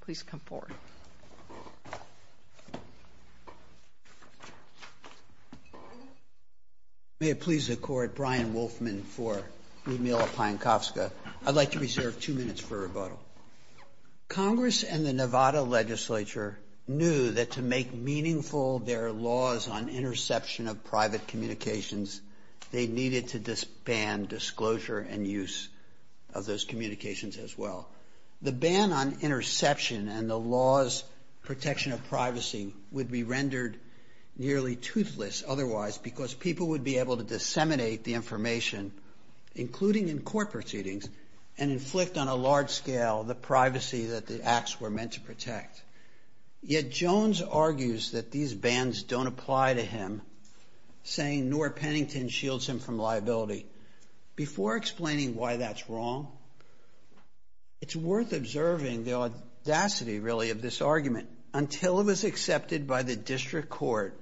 Please come forward. May it please the court, Brian Wolfman for Ludmyla Pyankovska. I'd like to reserve two minutes for rebuttal. Congress and the Nevada legislature knew that to make meaningful their laws on interception of private communications, they needed to disband disclosure and use of those interception and the laws protection of privacy would be rendered nearly toothless otherwise because people would be able to disseminate the information including in court proceedings and inflict on a large scale the privacy that the acts were meant to protect. Yet Jones argues that these bans don't apply to him saying nor Pennington shields him from liability. Before explaining why that's wrong, it's worth observing the audacity really of this argument. Until it was accepted by the district court,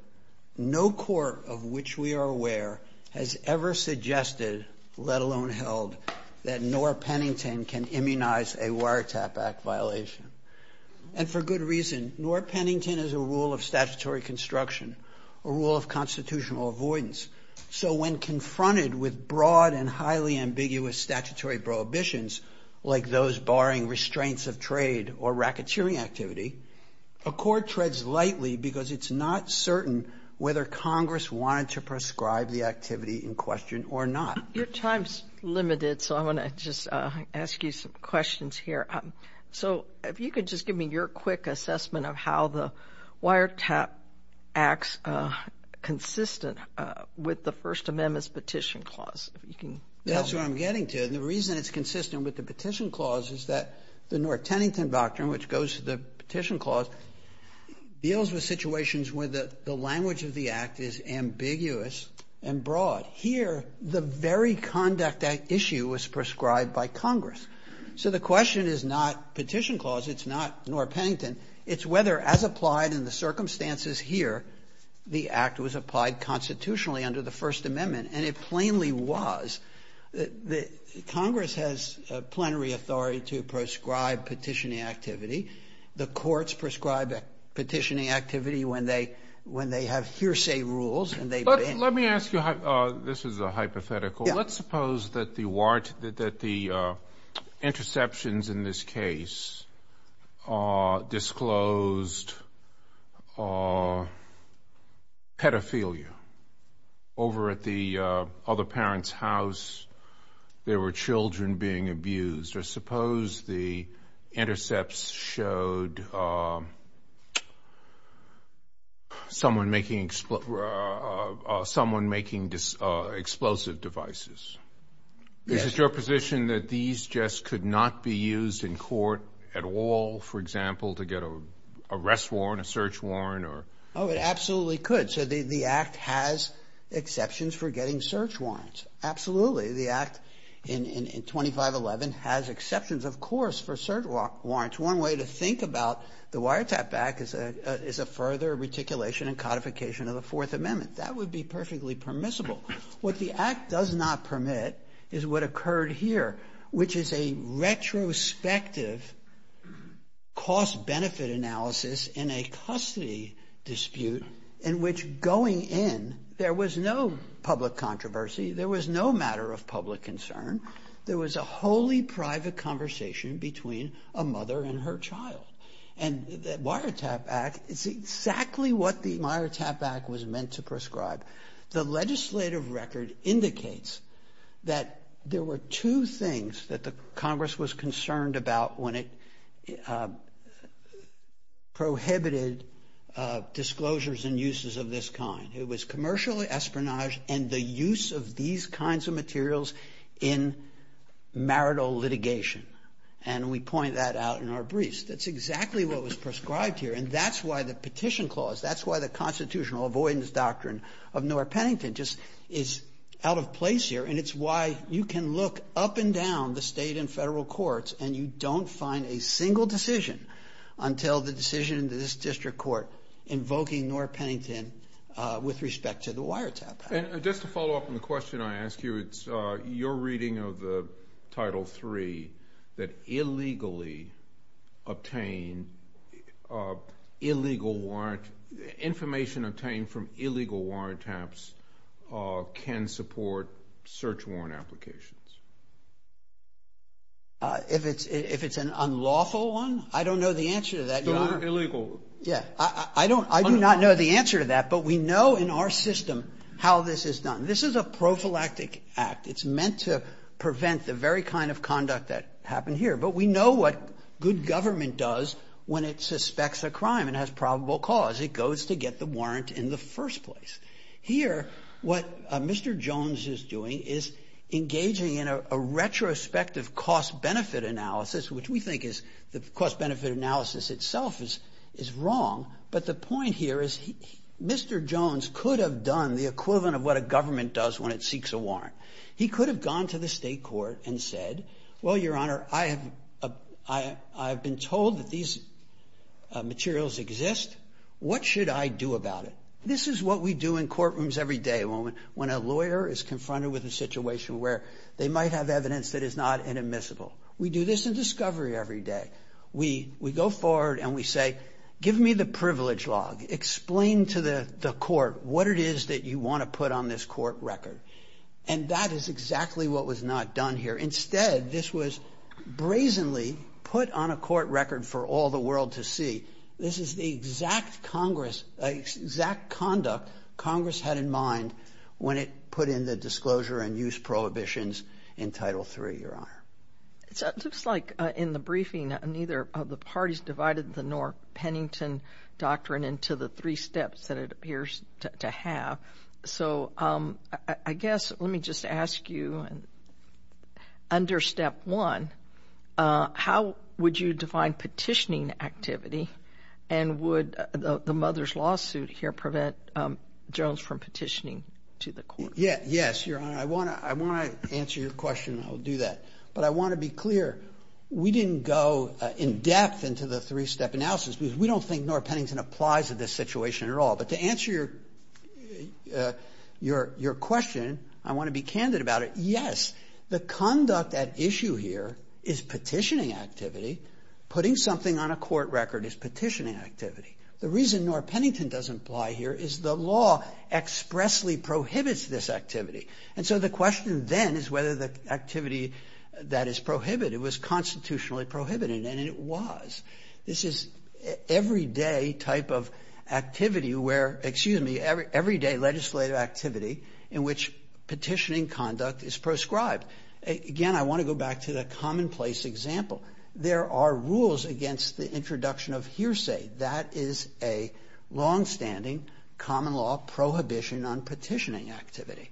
no court of which we are aware has ever suggested, let alone held, that nor Pennington can immunize a wiretap act violation and for good reason. Nor Pennington is a rule of statutory construction, a rule of constitutional avoidance, so when confronted with broad and highly ambiguous statutory prohibitions like those barring restraints of trade or racketeering activity, a court treads lightly because it's not certain whether Congress wanted to prescribe the activity in question or not. Your time's limited so I want to just ask you some questions here. So if you could just give me your quick assessment of how the wiretap acts consistent with the First Amendment's Petition Clause. That's where I'm getting to. And the reason it's consistent with the Petition Clause is that the nor Pennington doctrine, which goes to the Petition Clause, deals with situations where the language of the act is ambiguous and broad. Here, the very conduct at issue was prescribed by Congress. So the question is not Petition Act was applied constitutionally under the First Amendment, and it plainly was. Congress has plenary authority to prescribe petitioning activity. The courts prescribe petitioning activity when they have hearsay rules and they Let me ask you, this is a hypothetical, let's suppose that the interceptions in this case disclosed pedophilia. Over at the other parent's house, there were children being abused. Or suppose the intercepts showed someone making explosive devices. Is it your position that these just could not be used in court at all, for example, to get an arrest warrant, a search warrant? Oh, it absolutely could. So the act has exceptions for getting search warrants. Absolutely. The act in 2511 has exceptions, of course, for search warrants. One way to think about the wiretap back is a further reticulation and codification of the act does not permit is what occurred here, which is a retrospective cost benefit analysis in a custody dispute in which going in, there was no public controversy. There was no matter of public concern. There was a wholly private conversation between a mother and her child. And the Wiretap Act is exactly what the Wiretap Act was meant to prescribe. The legislative record indicates that there were two things that the Congress was concerned about when it prohibited disclosures and uses of this kind. It was commercial espionage and the use of these kinds of materials in marital litigation. And we point that out in our briefs. That's exactly what was prescribed here. And that's why the petition clause, that's why the Constitutional Avoidance Doctrine of Nora Pennington just is out of place here. And it's why you can look up and down the state and federal courts and you don't find a single decision until the decision in this district court invoking Nora Pennington with respect to the Wiretap Act. And just to follow up on the question I asked you, it's your reading of the Title III that information obtained from illegal wiretaps can support search warrant applications? If it's an unlawful one, I don't know the answer to that. Still illegal. Yeah. I do not know the answer to that, but we know in our system how this is done. This is a prophylactic act. It's meant to prevent the very kind of conduct that happened here. But we know what good government does when it suspects a crime and has probable cause. It goes to get the warrant in the first place. Here what Mr. Jones is doing is engaging in a retrospective cost-benefit analysis, which we think is the cost-benefit analysis itself is wrong. But the point here is Mr. Jones could have done the equivalent of what a government does when it seeks a warrant. He could have gone to the state court and said, well, Your Honor, I have been told that these materials exist. What should I do about it? This is what we do in courtrooms every day, when a lawyer is confronted with a situation where they might have evidence that is not inadmissible. We do this in discovery every day. We go forward and we say, give me the privilege log. Explain to the court what it is that you want to put on this court record. And that is exactly what was not done here. Instead, this was brazenly put on a court record for all the world to see. This is the exact conduct Congress had in mind when it put in the disclosure and use prohibitions in Title III, Your Honor. It looks like in the briefing neither of the parties divided the North Pennington Doctrine into the three steps that it appears to have. So I guess let me just ask you, under Step 1, how would you define petitioning activity and would the mother's lawsuit here prevent Jones from petitioning to the court? Yes, Your Honor. I want to answer your question and I'll do that. But I want to be clear, we didn't go in depth into the three-step analysis because we don't think North Pennington applies to this situation at all. But to answer your question, I want to be candid about it. Yes, the conduct at issue here is petitioning activity. Putting something on a court record is petitioning activity. The reason North Pennington doesn't apply here is the law expressly prohibits this activity. And so the question then is whether the activity that is prohibited was constitutionally prohibited, and it was. This is everyday type of activity where, excuse me, everyday legislative activity in which petitioning conduct is proscribed. Again, I want to go back to the commonplace example. There are longstanding common law prohibition on petitioning activity.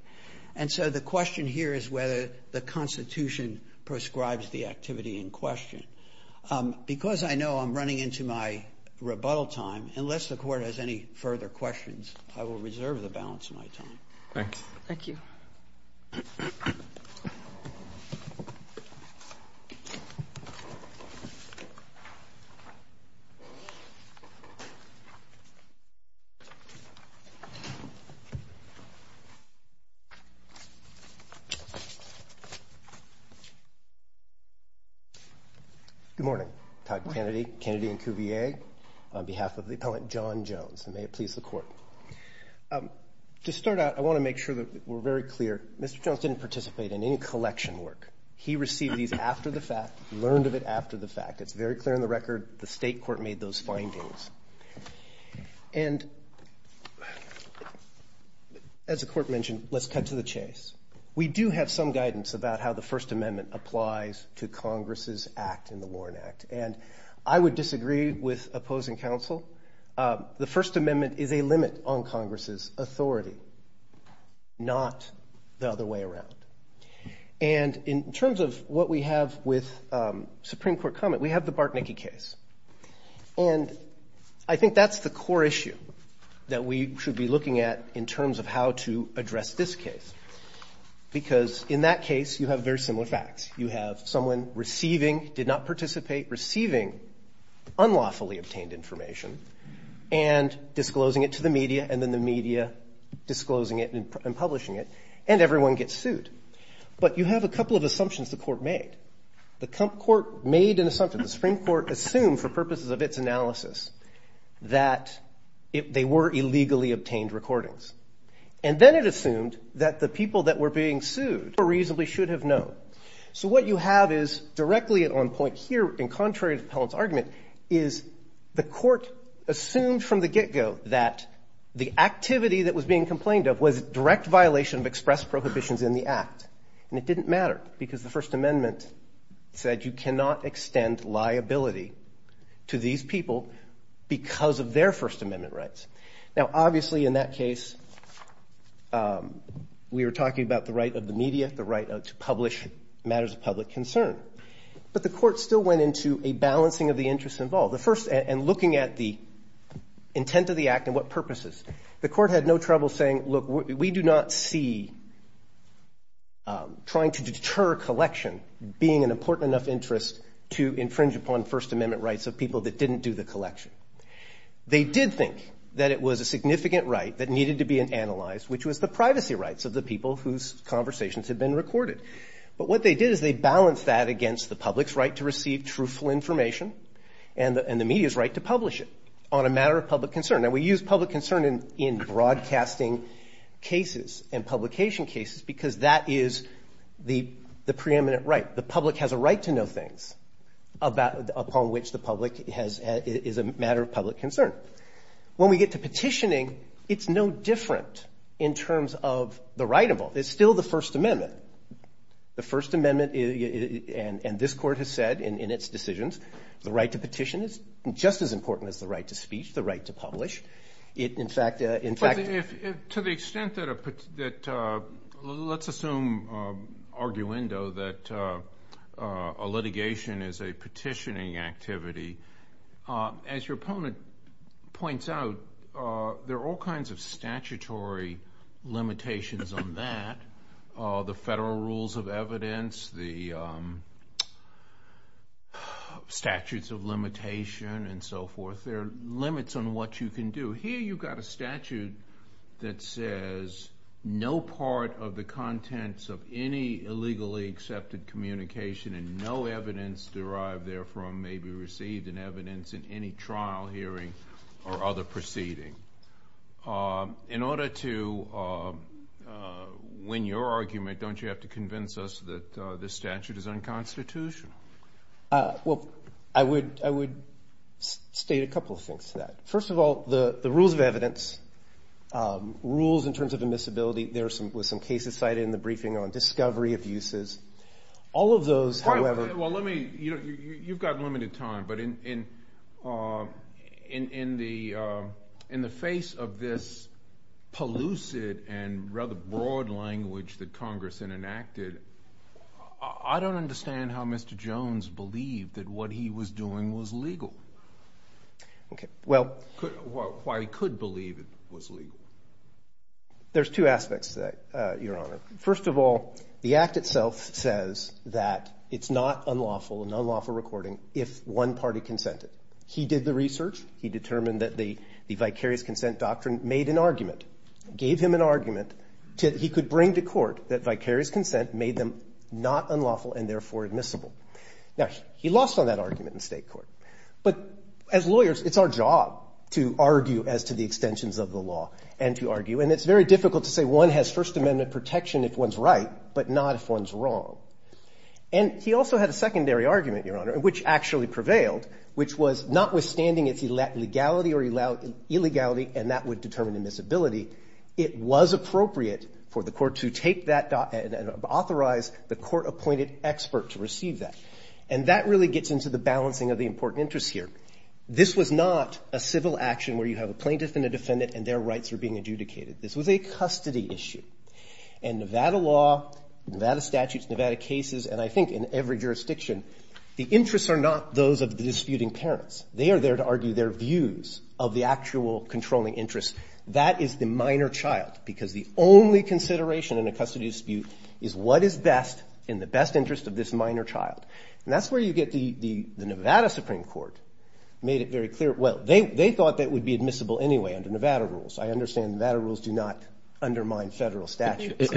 And so the question here is whether the Constitution proscribes the activity in question. Because I know I'm running into my rebuttal time, unless the Court has any further questions, I will reserve the balance of my time. Good morning. Todd Kennedy, Kennedy and Cuvier, on behalf of the Appellant John Jones. And may it please the Court. To start out, I want to make sure that we're very clear. Mr. Jones didn't participate in any collection work. He received these after the fact, learned of it after the fact. It's very clear in the record. The State Court made those findings. And as the Court mentioned, let's cut to the chase. We do have some guidance about how the First Amendment applies to Congress' act in the Warren Act. And I would disagree with opposing counsel. The First Amendment is a limit on Congress' authority, not the other way around. And in terms of what we have with Supreme Court comment, we have the Bartnicki case. And I think that's the core issue that we should be looking at in terms of how to address this case. Because in that case, you have very similar facts. You have someone receiving, did not participate, receiving unlawfully obtained information and disclosing it to the media, and then the media disclosing it and publishing it, and everyone gets sued. But you have a couple of assumptions the Court made. The Court made an assumption. The Supreme Court assumed for purposes of its analysis that they were illegally obtained recordings. And then it assumed that the people that were being sued reasonably should have known. So what you have is directly on point here, in contrary to Appellant's argument, is the Court assumed from the get-go that the activity that was being complained of was direct violation of express prohibitions in the Act. And it didn't matter, because the First Amendment said you cannot extend liability to these people because of their First Amendment rights. Now, obviously, in that case, we were talking about the right of the media, the right to publish matters of public concern. But the Court still went into a balancing of the interests involved. The first – and looking at the intent of the Act and what purposes. The Court had no trouble saying, look, we do not see trying to deter a collection being an important enough interest to infringe upon First Amendment rights of people that didn't do the collection. They did think that it was a significant right that needed to be analyzed, which was the privacy rights of the people whose conversations had been recorded. But what they did is they balanced that against the public's right to receive truthful information and the media's right to publish it on a matter of public concern. Now, we use public concern in broadcasting cases and publication cases because that is the preeminent right. The public has a right to know things upon which the public has – is a matter of public concern. When we get to petitioning, it's no different in terms of the right involved. It's still the First Amendment. The First Amendment – and this Court has said in its decisions, the right to petition is just as important as the right to speech, the right to publish. It, in fact – But if – to the extent that a – let's assume arguendo that a litigation is a petitioning activity, as your opponent points out, there are all kinds of statutory limitations on that. The federal rules of evidence, the statutes of limitation, and so forth. There are limits on what you can do. Here you've got a statute that says no part of the contents of any illegally accepted communication and no evidence derived therefrom may be received in evidence in any trial hearing or other proceeding. In order to win your argument, don't you have to convince us that this statute is unconstitutional? Well, I would state a couple of things to that. First of all, the rules of evidence, rules in terms of admissibility, there were some cases cited in the briefing on discovery of uses. All of those, however – Well, let me – you've got limited time, but in the face of this pellucid and rather broad language that Congress enacted, I don't understand how Mr. Jones believed that what he was doing was legal. Okay, well – Why he could believe it was legal. There's two aspects to that, Your Honor. First of all, the Act itself says that it's not unlawful, an unlawful recording, if one party consented. He did the research. He determined that the vicarious consent doctrine made an argument, gave him an argument, that he could bring to court that vicarious consent made them not unlawful and therefore admissible. Now, he lost on that argument in state court. But as lawyers, it's our job to argue as to the extensions of the law and to argue. And it's very important that we do that in a protection if one's right, but not if one's wrong. And he also had a secondary argument, Your Honor, which actually prevailed, which was notwithstanding its legality or illegality, and that would determine admissibility, it was appropriate for the court to take that and authorize the court-appointed expert to receive that. And that really gets into the balancing of the important interests here. This was not a civil action where you have a plaintiff and a defendant and their rights are being adjudicated. This was a custody issue. And Nevada law, Nevada statutes, Nevada cases, and I think in every jurisdiction, the interests are not those of the disputing parents. They are there to argue their views of the actual controlling interests. That is the minor child, because the only consideration in a custody dispute is what is best in the best interest of this minor child. And that's where you get the Nevada Supreme Court made it very clear, well, they thought that would be admissible anyway under Nevada rules. I understand Nevada rules do not undermine Federal statutes.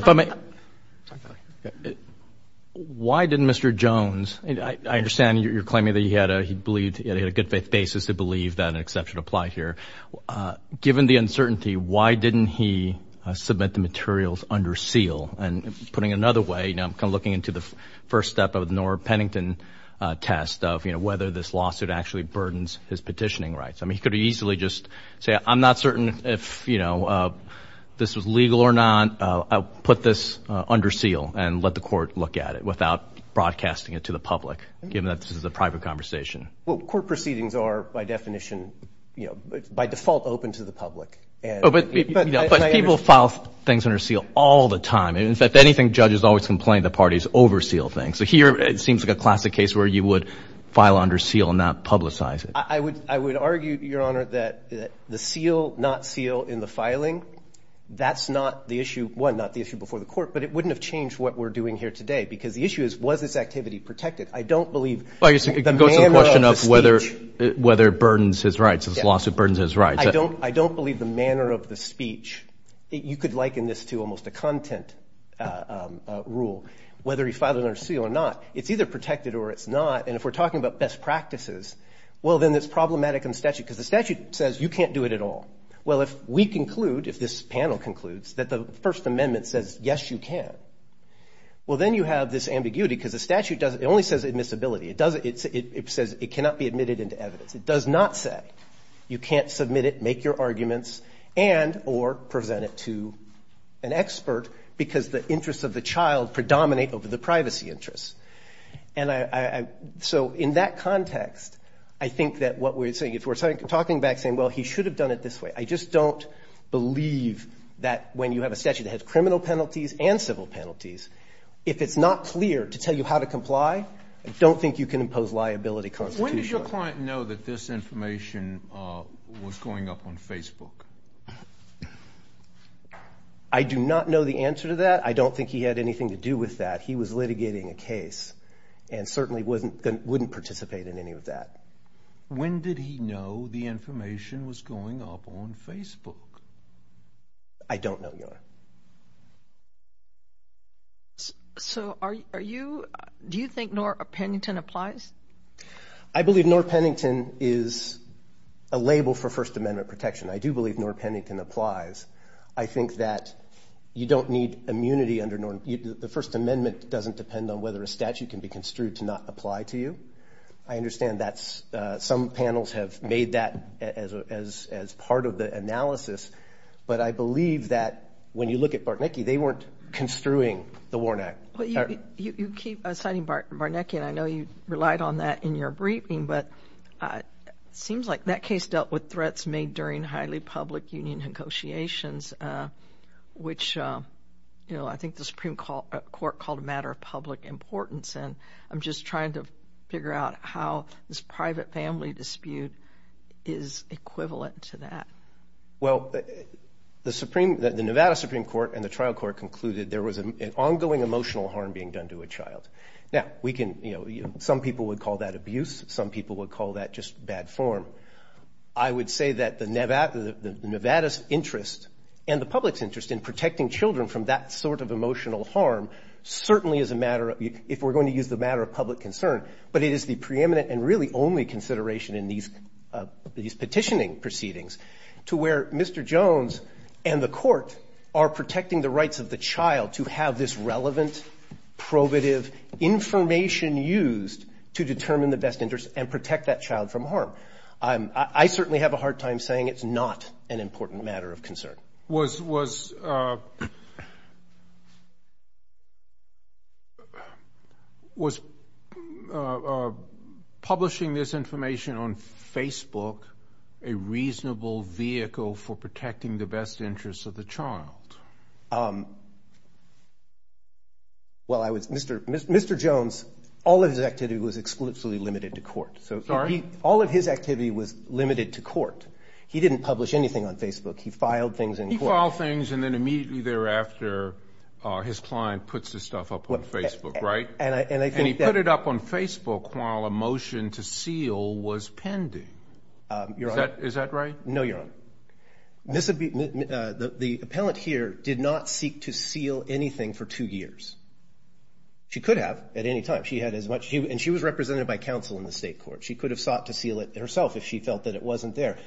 Why didn't Mr. Jones, I understand you're claiming that he had a good faith basis to believe that an exception applied here. Given the uncertainty, why didn't he submit the materials under seal? And putting it another way, you know, I'm kind of looking into the first step of the Norah Pennington test of, you know, whether this lawsuit actually burdens his petitioning rights. I mean, he could easily just say, I'm not certain if, you know, this was legal or not. I'll put this under seal and let the court look at it without broadcasting it to the public, given that this is a private conversation. Well, court proceedings are, by definition, you know, by default open to the public. Oh, but people file things under seal all the time. And in fact, anything judges always complain, the parties overseal things. So here, it seems like a classic case where you would file under seal and not publicize it. I would argue, Your Honor, that the seal, not seal in the filing, that's not the issue, one, not the issue before the court, but it wouldn't have changed what we're doing here today because the issue is, was this activity protected? I don't believe the manner of the speech. Well, I guess it goes to the question of whether it burdens his rights, this lawsuit burdens his rights. I don't believe the manner of the speech. You could liken this to almost a content rule, whether he filed it under seal or not. It's either protected or it's not. And if we're talking about best practices, well, then it's problematic in the statute, because the statute says you can't do it at all. Well, if we conclude, if this panel concludes, that the First Amendment says, yes, you can, well, then you have this ambiguity, because the statute doesn't – it only says admissibility. It doesn't – it says it cannot be admitted into evidence. It does not say you can't submit it, make your arguments, and or present it to an expert, because the interests of the child predominate over the privacy interests. And I – so in that context, I think that what we're saying – if we're talking back saying, well, he should have done it this way, I just don't believe that when you have a statute that has criminal penalties and civil penalties, if it's not clear to tell you how to comply, I don't think you can impose liability constitutionally. When did your client know that this information was going up on Facebook? I do not know the answer to that. I don't think he had anything to do with that. He was litigating a case and certainly wouldn't participate in any of that. When did he know the information was going up on Facebook? I don't know, Your Honor. So are you – do you think Norah Pennington applies? I believe Norah Pennington is a label for First Amendment protection. I do believe Norah Pennington applies. I think that you don't need immunity under – the First Amendment doesn't depend on whether a statute can be construed to not apply to you. I understand that's – some panels have made that as part of the analysis, but I believe that when you look at Bartnicki, they weren't construing the WARN Act. You keep citing Bartnicki, and I know you relied on that in your briefing, but it seems like that case dealt with threats made during highly public union negotiations, which I think the Supreme Court called a matter of public importance, and I'm just trying to figure out how this private family dispute is equivalent to that. Well, the Nevada Supreme Court and the trial court concluded there was an ongoing emotional harm being done to a child. Now, we can – some people would call that abuse. Some people would call that just bad form. I would say that the Nevada's interest and the public's interest in protecting children from that sort of emotional harm certainly is a matter of – if we're going to use the matter of public concern, but it is the preeminent and really only consideration in these petitioning proceedings to where Mr. Jones and the court are protecting the rights of the child to have this relevant, probative information used to determine the best interest and protect that child from harm. I certainly have a hard time saying it's not an important matter of concern. Was publishing this information on Facebook a reasonable vehicle for protecting the best interests of the child? Well, I was – Mr. Jones, all of his activity was exclusively limited to court. Sorry? All of his activity was limited to court. He didn't publish anything on Facebook. He filed things in court. He filed things, and then immediately thereafter, his client puts this stuff up on Facebook, right? And I think that – And he put it up on Facebook while a motion to seal was pending. Your Honor – Is that right? No, Your Honor. The appellant here did not seek to seal anything for two years. She could have at any time. She had as much – and she was represented by counsel in the state court. She could have sought to seal it herself if she felt that it wasn't there.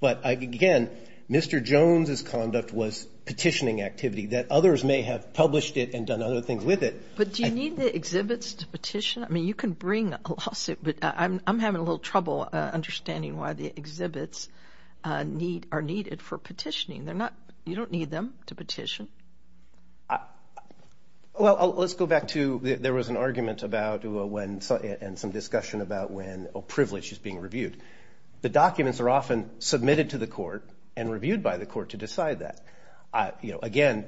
But again, Mr. Jones' conduct was petitioning activity that others may have published it and done other things with it. But do you need the exhibits to petition? I mean, you can bring a lawsuit, but I'm sure they are needed for petitioning. They're not – you don't need them to petition. Well, let's go back to – there was an argument about when – and some discussion about when a privilege is being reviewed. The documents are often submitted to the court and reviewed by the court to decide that. Again,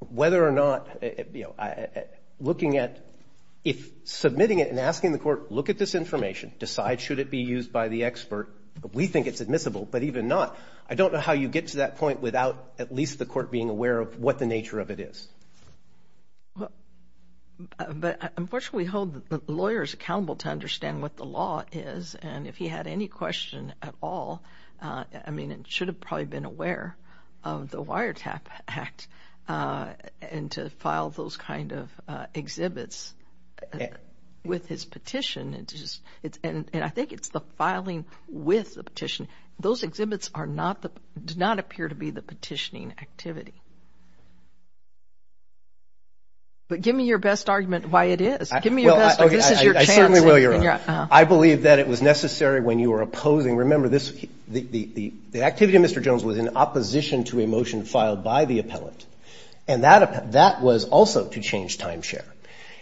whether or not – looking at – submitting it and asking the court, look at this information, decide should it be used by the expert. We think it's admissible, but even not. I don't know how you get to that point without at least the court being aware of what the nature of it is. But unfortunately, we hold the lawyers accountable to understand what the law is. And if he had any question at all, I mean, it should have probably been aware of the Wiretap Act and to file those kind of exhibits with his petition. And I think it's the filing with the petition – those exhibits are not the – do not appear to be the petitioning activity. But give me your best argument why it is. Give me your best – this is your chance. Well, I certainly will, Your Honor. I believe that it was necessary when you were opposing – remember, this – the activity of Mr. Jones was in opposition to a motion filed by the appellant. And that was also to change timeshare.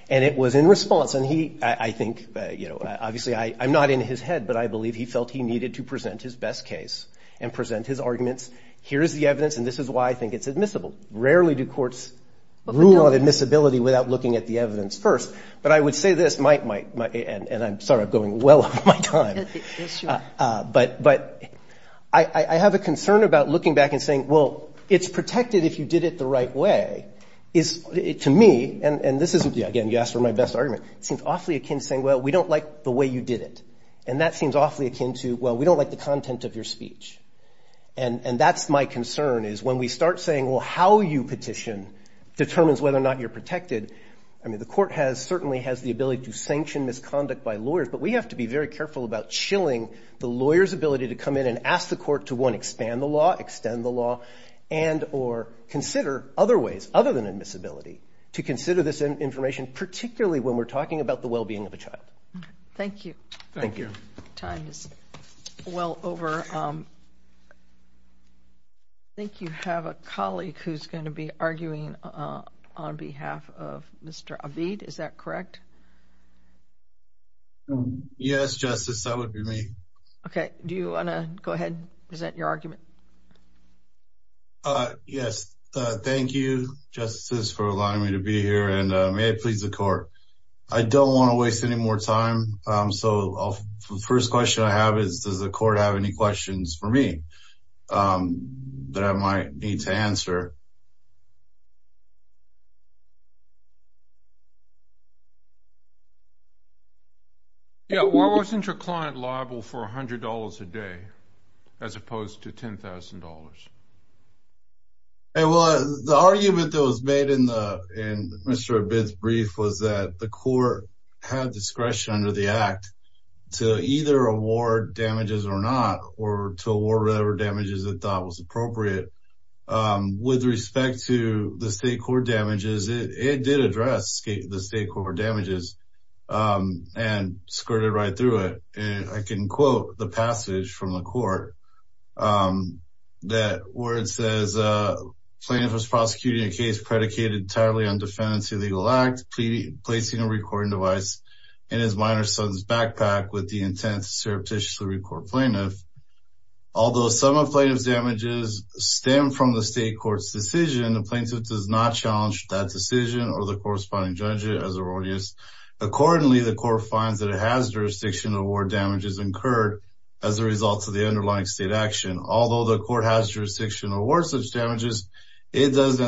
And it was in response. And he – I think, you know, obviously I'm not in his head, but I believe he felt he needed to present his best case and present his arguments. Here is the evidence, and this is why I think it's admissible. Rarely do courts rule on admissibility without looking at the evidence first. But I would say this – and I'm sorry, I'm going well over my time. But I have a concern about looking back and saying, well, it's protected if you did it the right way, is to me – and this is – again, you asked for my best argument. It seems awfully akin to saying, well, we don't like the way you did it. And that seems awfully akin to, well, we don't like the content of your speech. And that's my concern, is when we start saying, well, how you petition determines whether or not you're protected. I mean, the court has – certainly has the ability to sanction misconduct by lawyers, but we have to be very careful about chilling the lawyer's ability to come in and ask the court to, one, expand the law, extend the law, and – or consider other ways, other than admissibility, to consider this information, particularly when we're talking about the well-being of a child. Thank you. Thank you. Your time is well over. I think you have a colleague who's going to be arguing on behalf of Mr. Abid. Is that correct? Yes, Justice. That would be me. Okay. Do you want to go ahead and present your argument? Yes. Thank you, Justice, for allowing me to be here. And may it please the court, I don't want to waste any more time, so the first question I have is, does the court have any questions for me that I might need to answer? Yeah. Why wasn't your client liable for $100 a day, as opposed to $10,000? Well, the argument that was made in Mr. Abid's brief was that the court had discretion under the Act to either award damages or not, or to award whatever damages it thought was appropriate. With respect to the state court damages, it did address the state court damages and skirted right through it. And I can quote the passage from the court that where it says, plaintiff is prosecuting a case predicated entirely on defendant's illegal act, placing a recording device in his minor son's backpack with the intent to surreptitiously record plaintiff. Although some of plaintiff's damages stem from the state court's decision, the plaintiff does not challenge that decision or the corresponding judge as erroneous. Accordingly, the court finds that it has jurisdiction to award damages incurred as a result of the underlying state action. Although the court has jurisdiction to award such damages, it does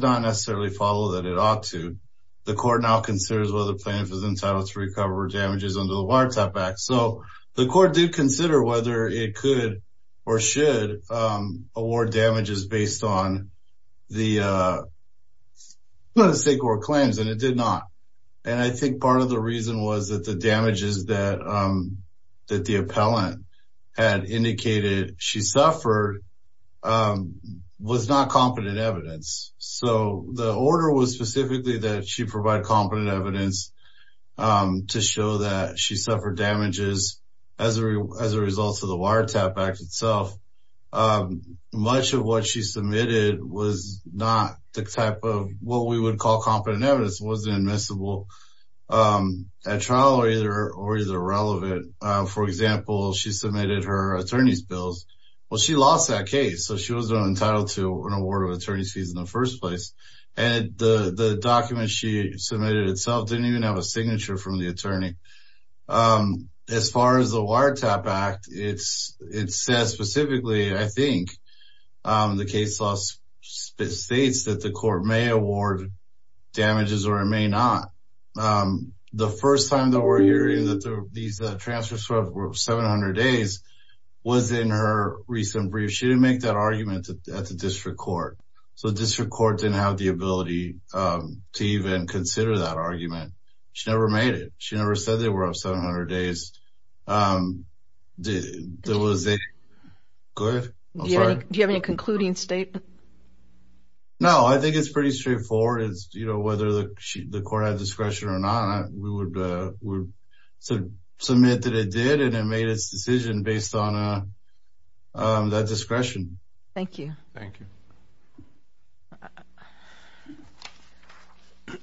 not necessarily follow that it ought to. The court now considers whether plaintiff is entitled to recover damages under the Wiretap Act. So, the court did consider whether it could or should award damages based on the state court claims, and it did not. And I think part of the reason was that the damages that the appellant had indicated she suffered was not competent evidence. So, the order was specifically that she provide competent evidence to show that she suffered damages as a result of the Wiretap Act itself. Much of what she submitted was not the type of what we would call competent evidence. It wasn't admissible at trial or either relevant. For example, she submitted her attorney's bills. Well, she lost that case, so she wasn't entitled to an award of attorney's fees in the first place. And the document she submitted itself didn't even have signature from the attorney. As far as the Wiretap Act, it says specifically, I think, the case law states that the court may award damages or it may not. The first time that we're hearing that these transfers were 700 days was in her recent brief. She didn't make that argument at the district court. So, the district court didn't have the ability to even consider that she never made it. She never said they were up 700 days. Do you have any concluding statement? No, I think it's pretty straightforward. It's, you know, whether the court had discretion or not, we would submit that it did and it made its decision based on that discretion. Thank you. Thank you.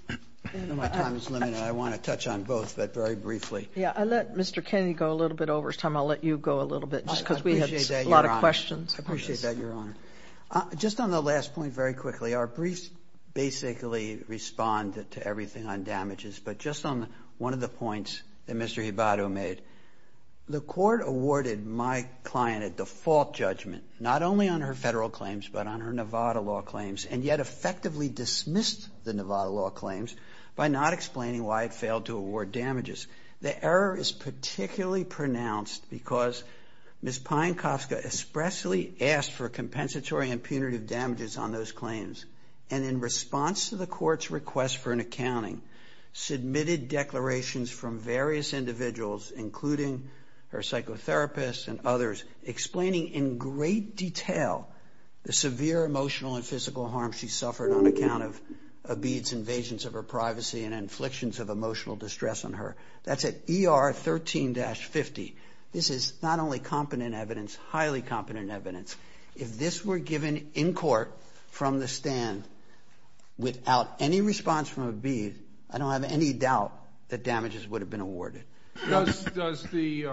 I know my time is limited. I want to touch on both, but very briefly. Yeah, I'll let Mr. Kennedy go a little bit over his time. I'll let you go a little bit, just because we had a lot of questions. I appreciate that, Your Honor. Just on the last point, very quickly, our briefs basically respond to everything on damages. But just on one of the points that Mr. Hibato made, the court awarded my client a default judgment, not only on her Federal claims, but on her Nevada law claims, and yet effectively dismissed the Nevada law claims by not explaining why it failed to award damages. The error is particularly pronounced because Ms. Pienkowska expressly asked for compensatory and punitive damages on those claims. And in response to the court's request for an accounting, submitted declarations from various individuals, including her physical harm she suffered on account of Abeed's invasions of her privacy and inflictions of emotional distress on her. That's at ER 13-50. This is not only competent evidence, highly competent evidence. If this were given in court from the stand without any response from Abeed, I don't have any doubt that damages would have been awarded. Does the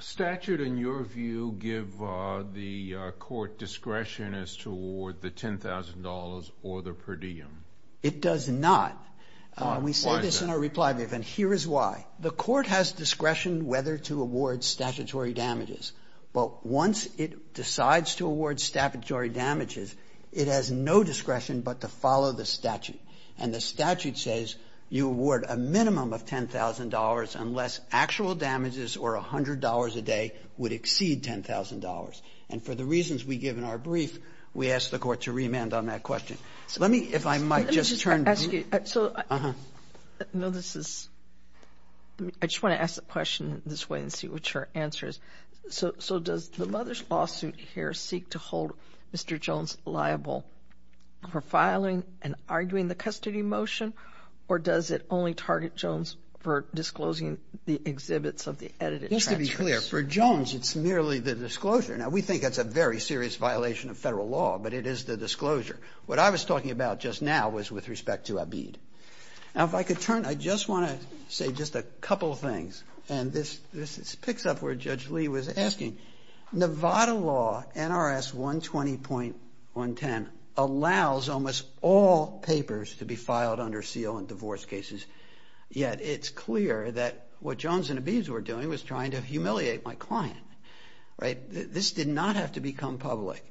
statute, in your view, give the court discretion as to award the $10,000 or the per diem? It does not. We say this in our reply brief, and here is why. The court has discretion whether to award statutory damages. But once it decides to award statutory damages, it has no discretion but to follow the statute. And the statute says you award a minimum of $10,000 unless actual damages or $100 a day would exceed $10,000. And for the reasons we give in our brief, we ask the court to remand on that question. Let me, if I might, just turn to you. Let me just ask you. I just want to ask the question this way and see what your answer is. So does the mother's lawsuit here seek to hold Mr. Jones liable for filing and arguing the custody motion, or does it only target Jones for disclosing the exhibits of the edited transcripts? Just to be clear, for Jones, it's merely the disclosure. Now, we think that's a very serious violation of Federal law, but it is the disclosure. What I was talking about just now was with respect to Abeed. Now, if I could turn, I just want to say just a couple things. And this picks up where Judge Lee was asking. Nevada law, NRS 120.110, allows almost all papers to be filed under seal in divorce cases. Yet, it's clear that what Jones and Abeed were doing was trying to humiliate my client. This did not have to become public.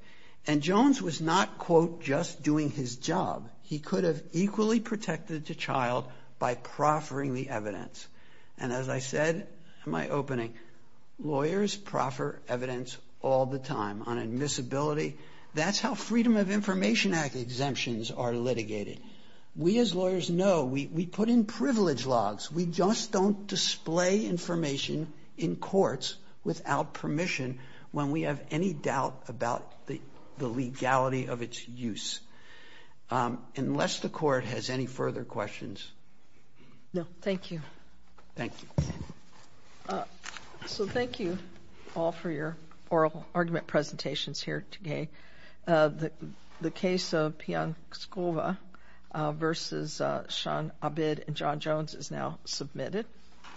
And Jones was not, quote, just doing his job. He could have equally protected the child by proffering the evidence. And as I said in my opening, lawyers proffer evidence all the time on admissibility. That's how Freedom of Information Act exemptions are litigated. We as lawyers know, we put in privilege logs. We just don't display information in courts without permission when we have any doubt about the legality of its use. Unless the no, thank you. Thank you. So thank you all for your oral argument presentations here today. The case of Pionskova versus Sean Abeed and John Jones is now submitted.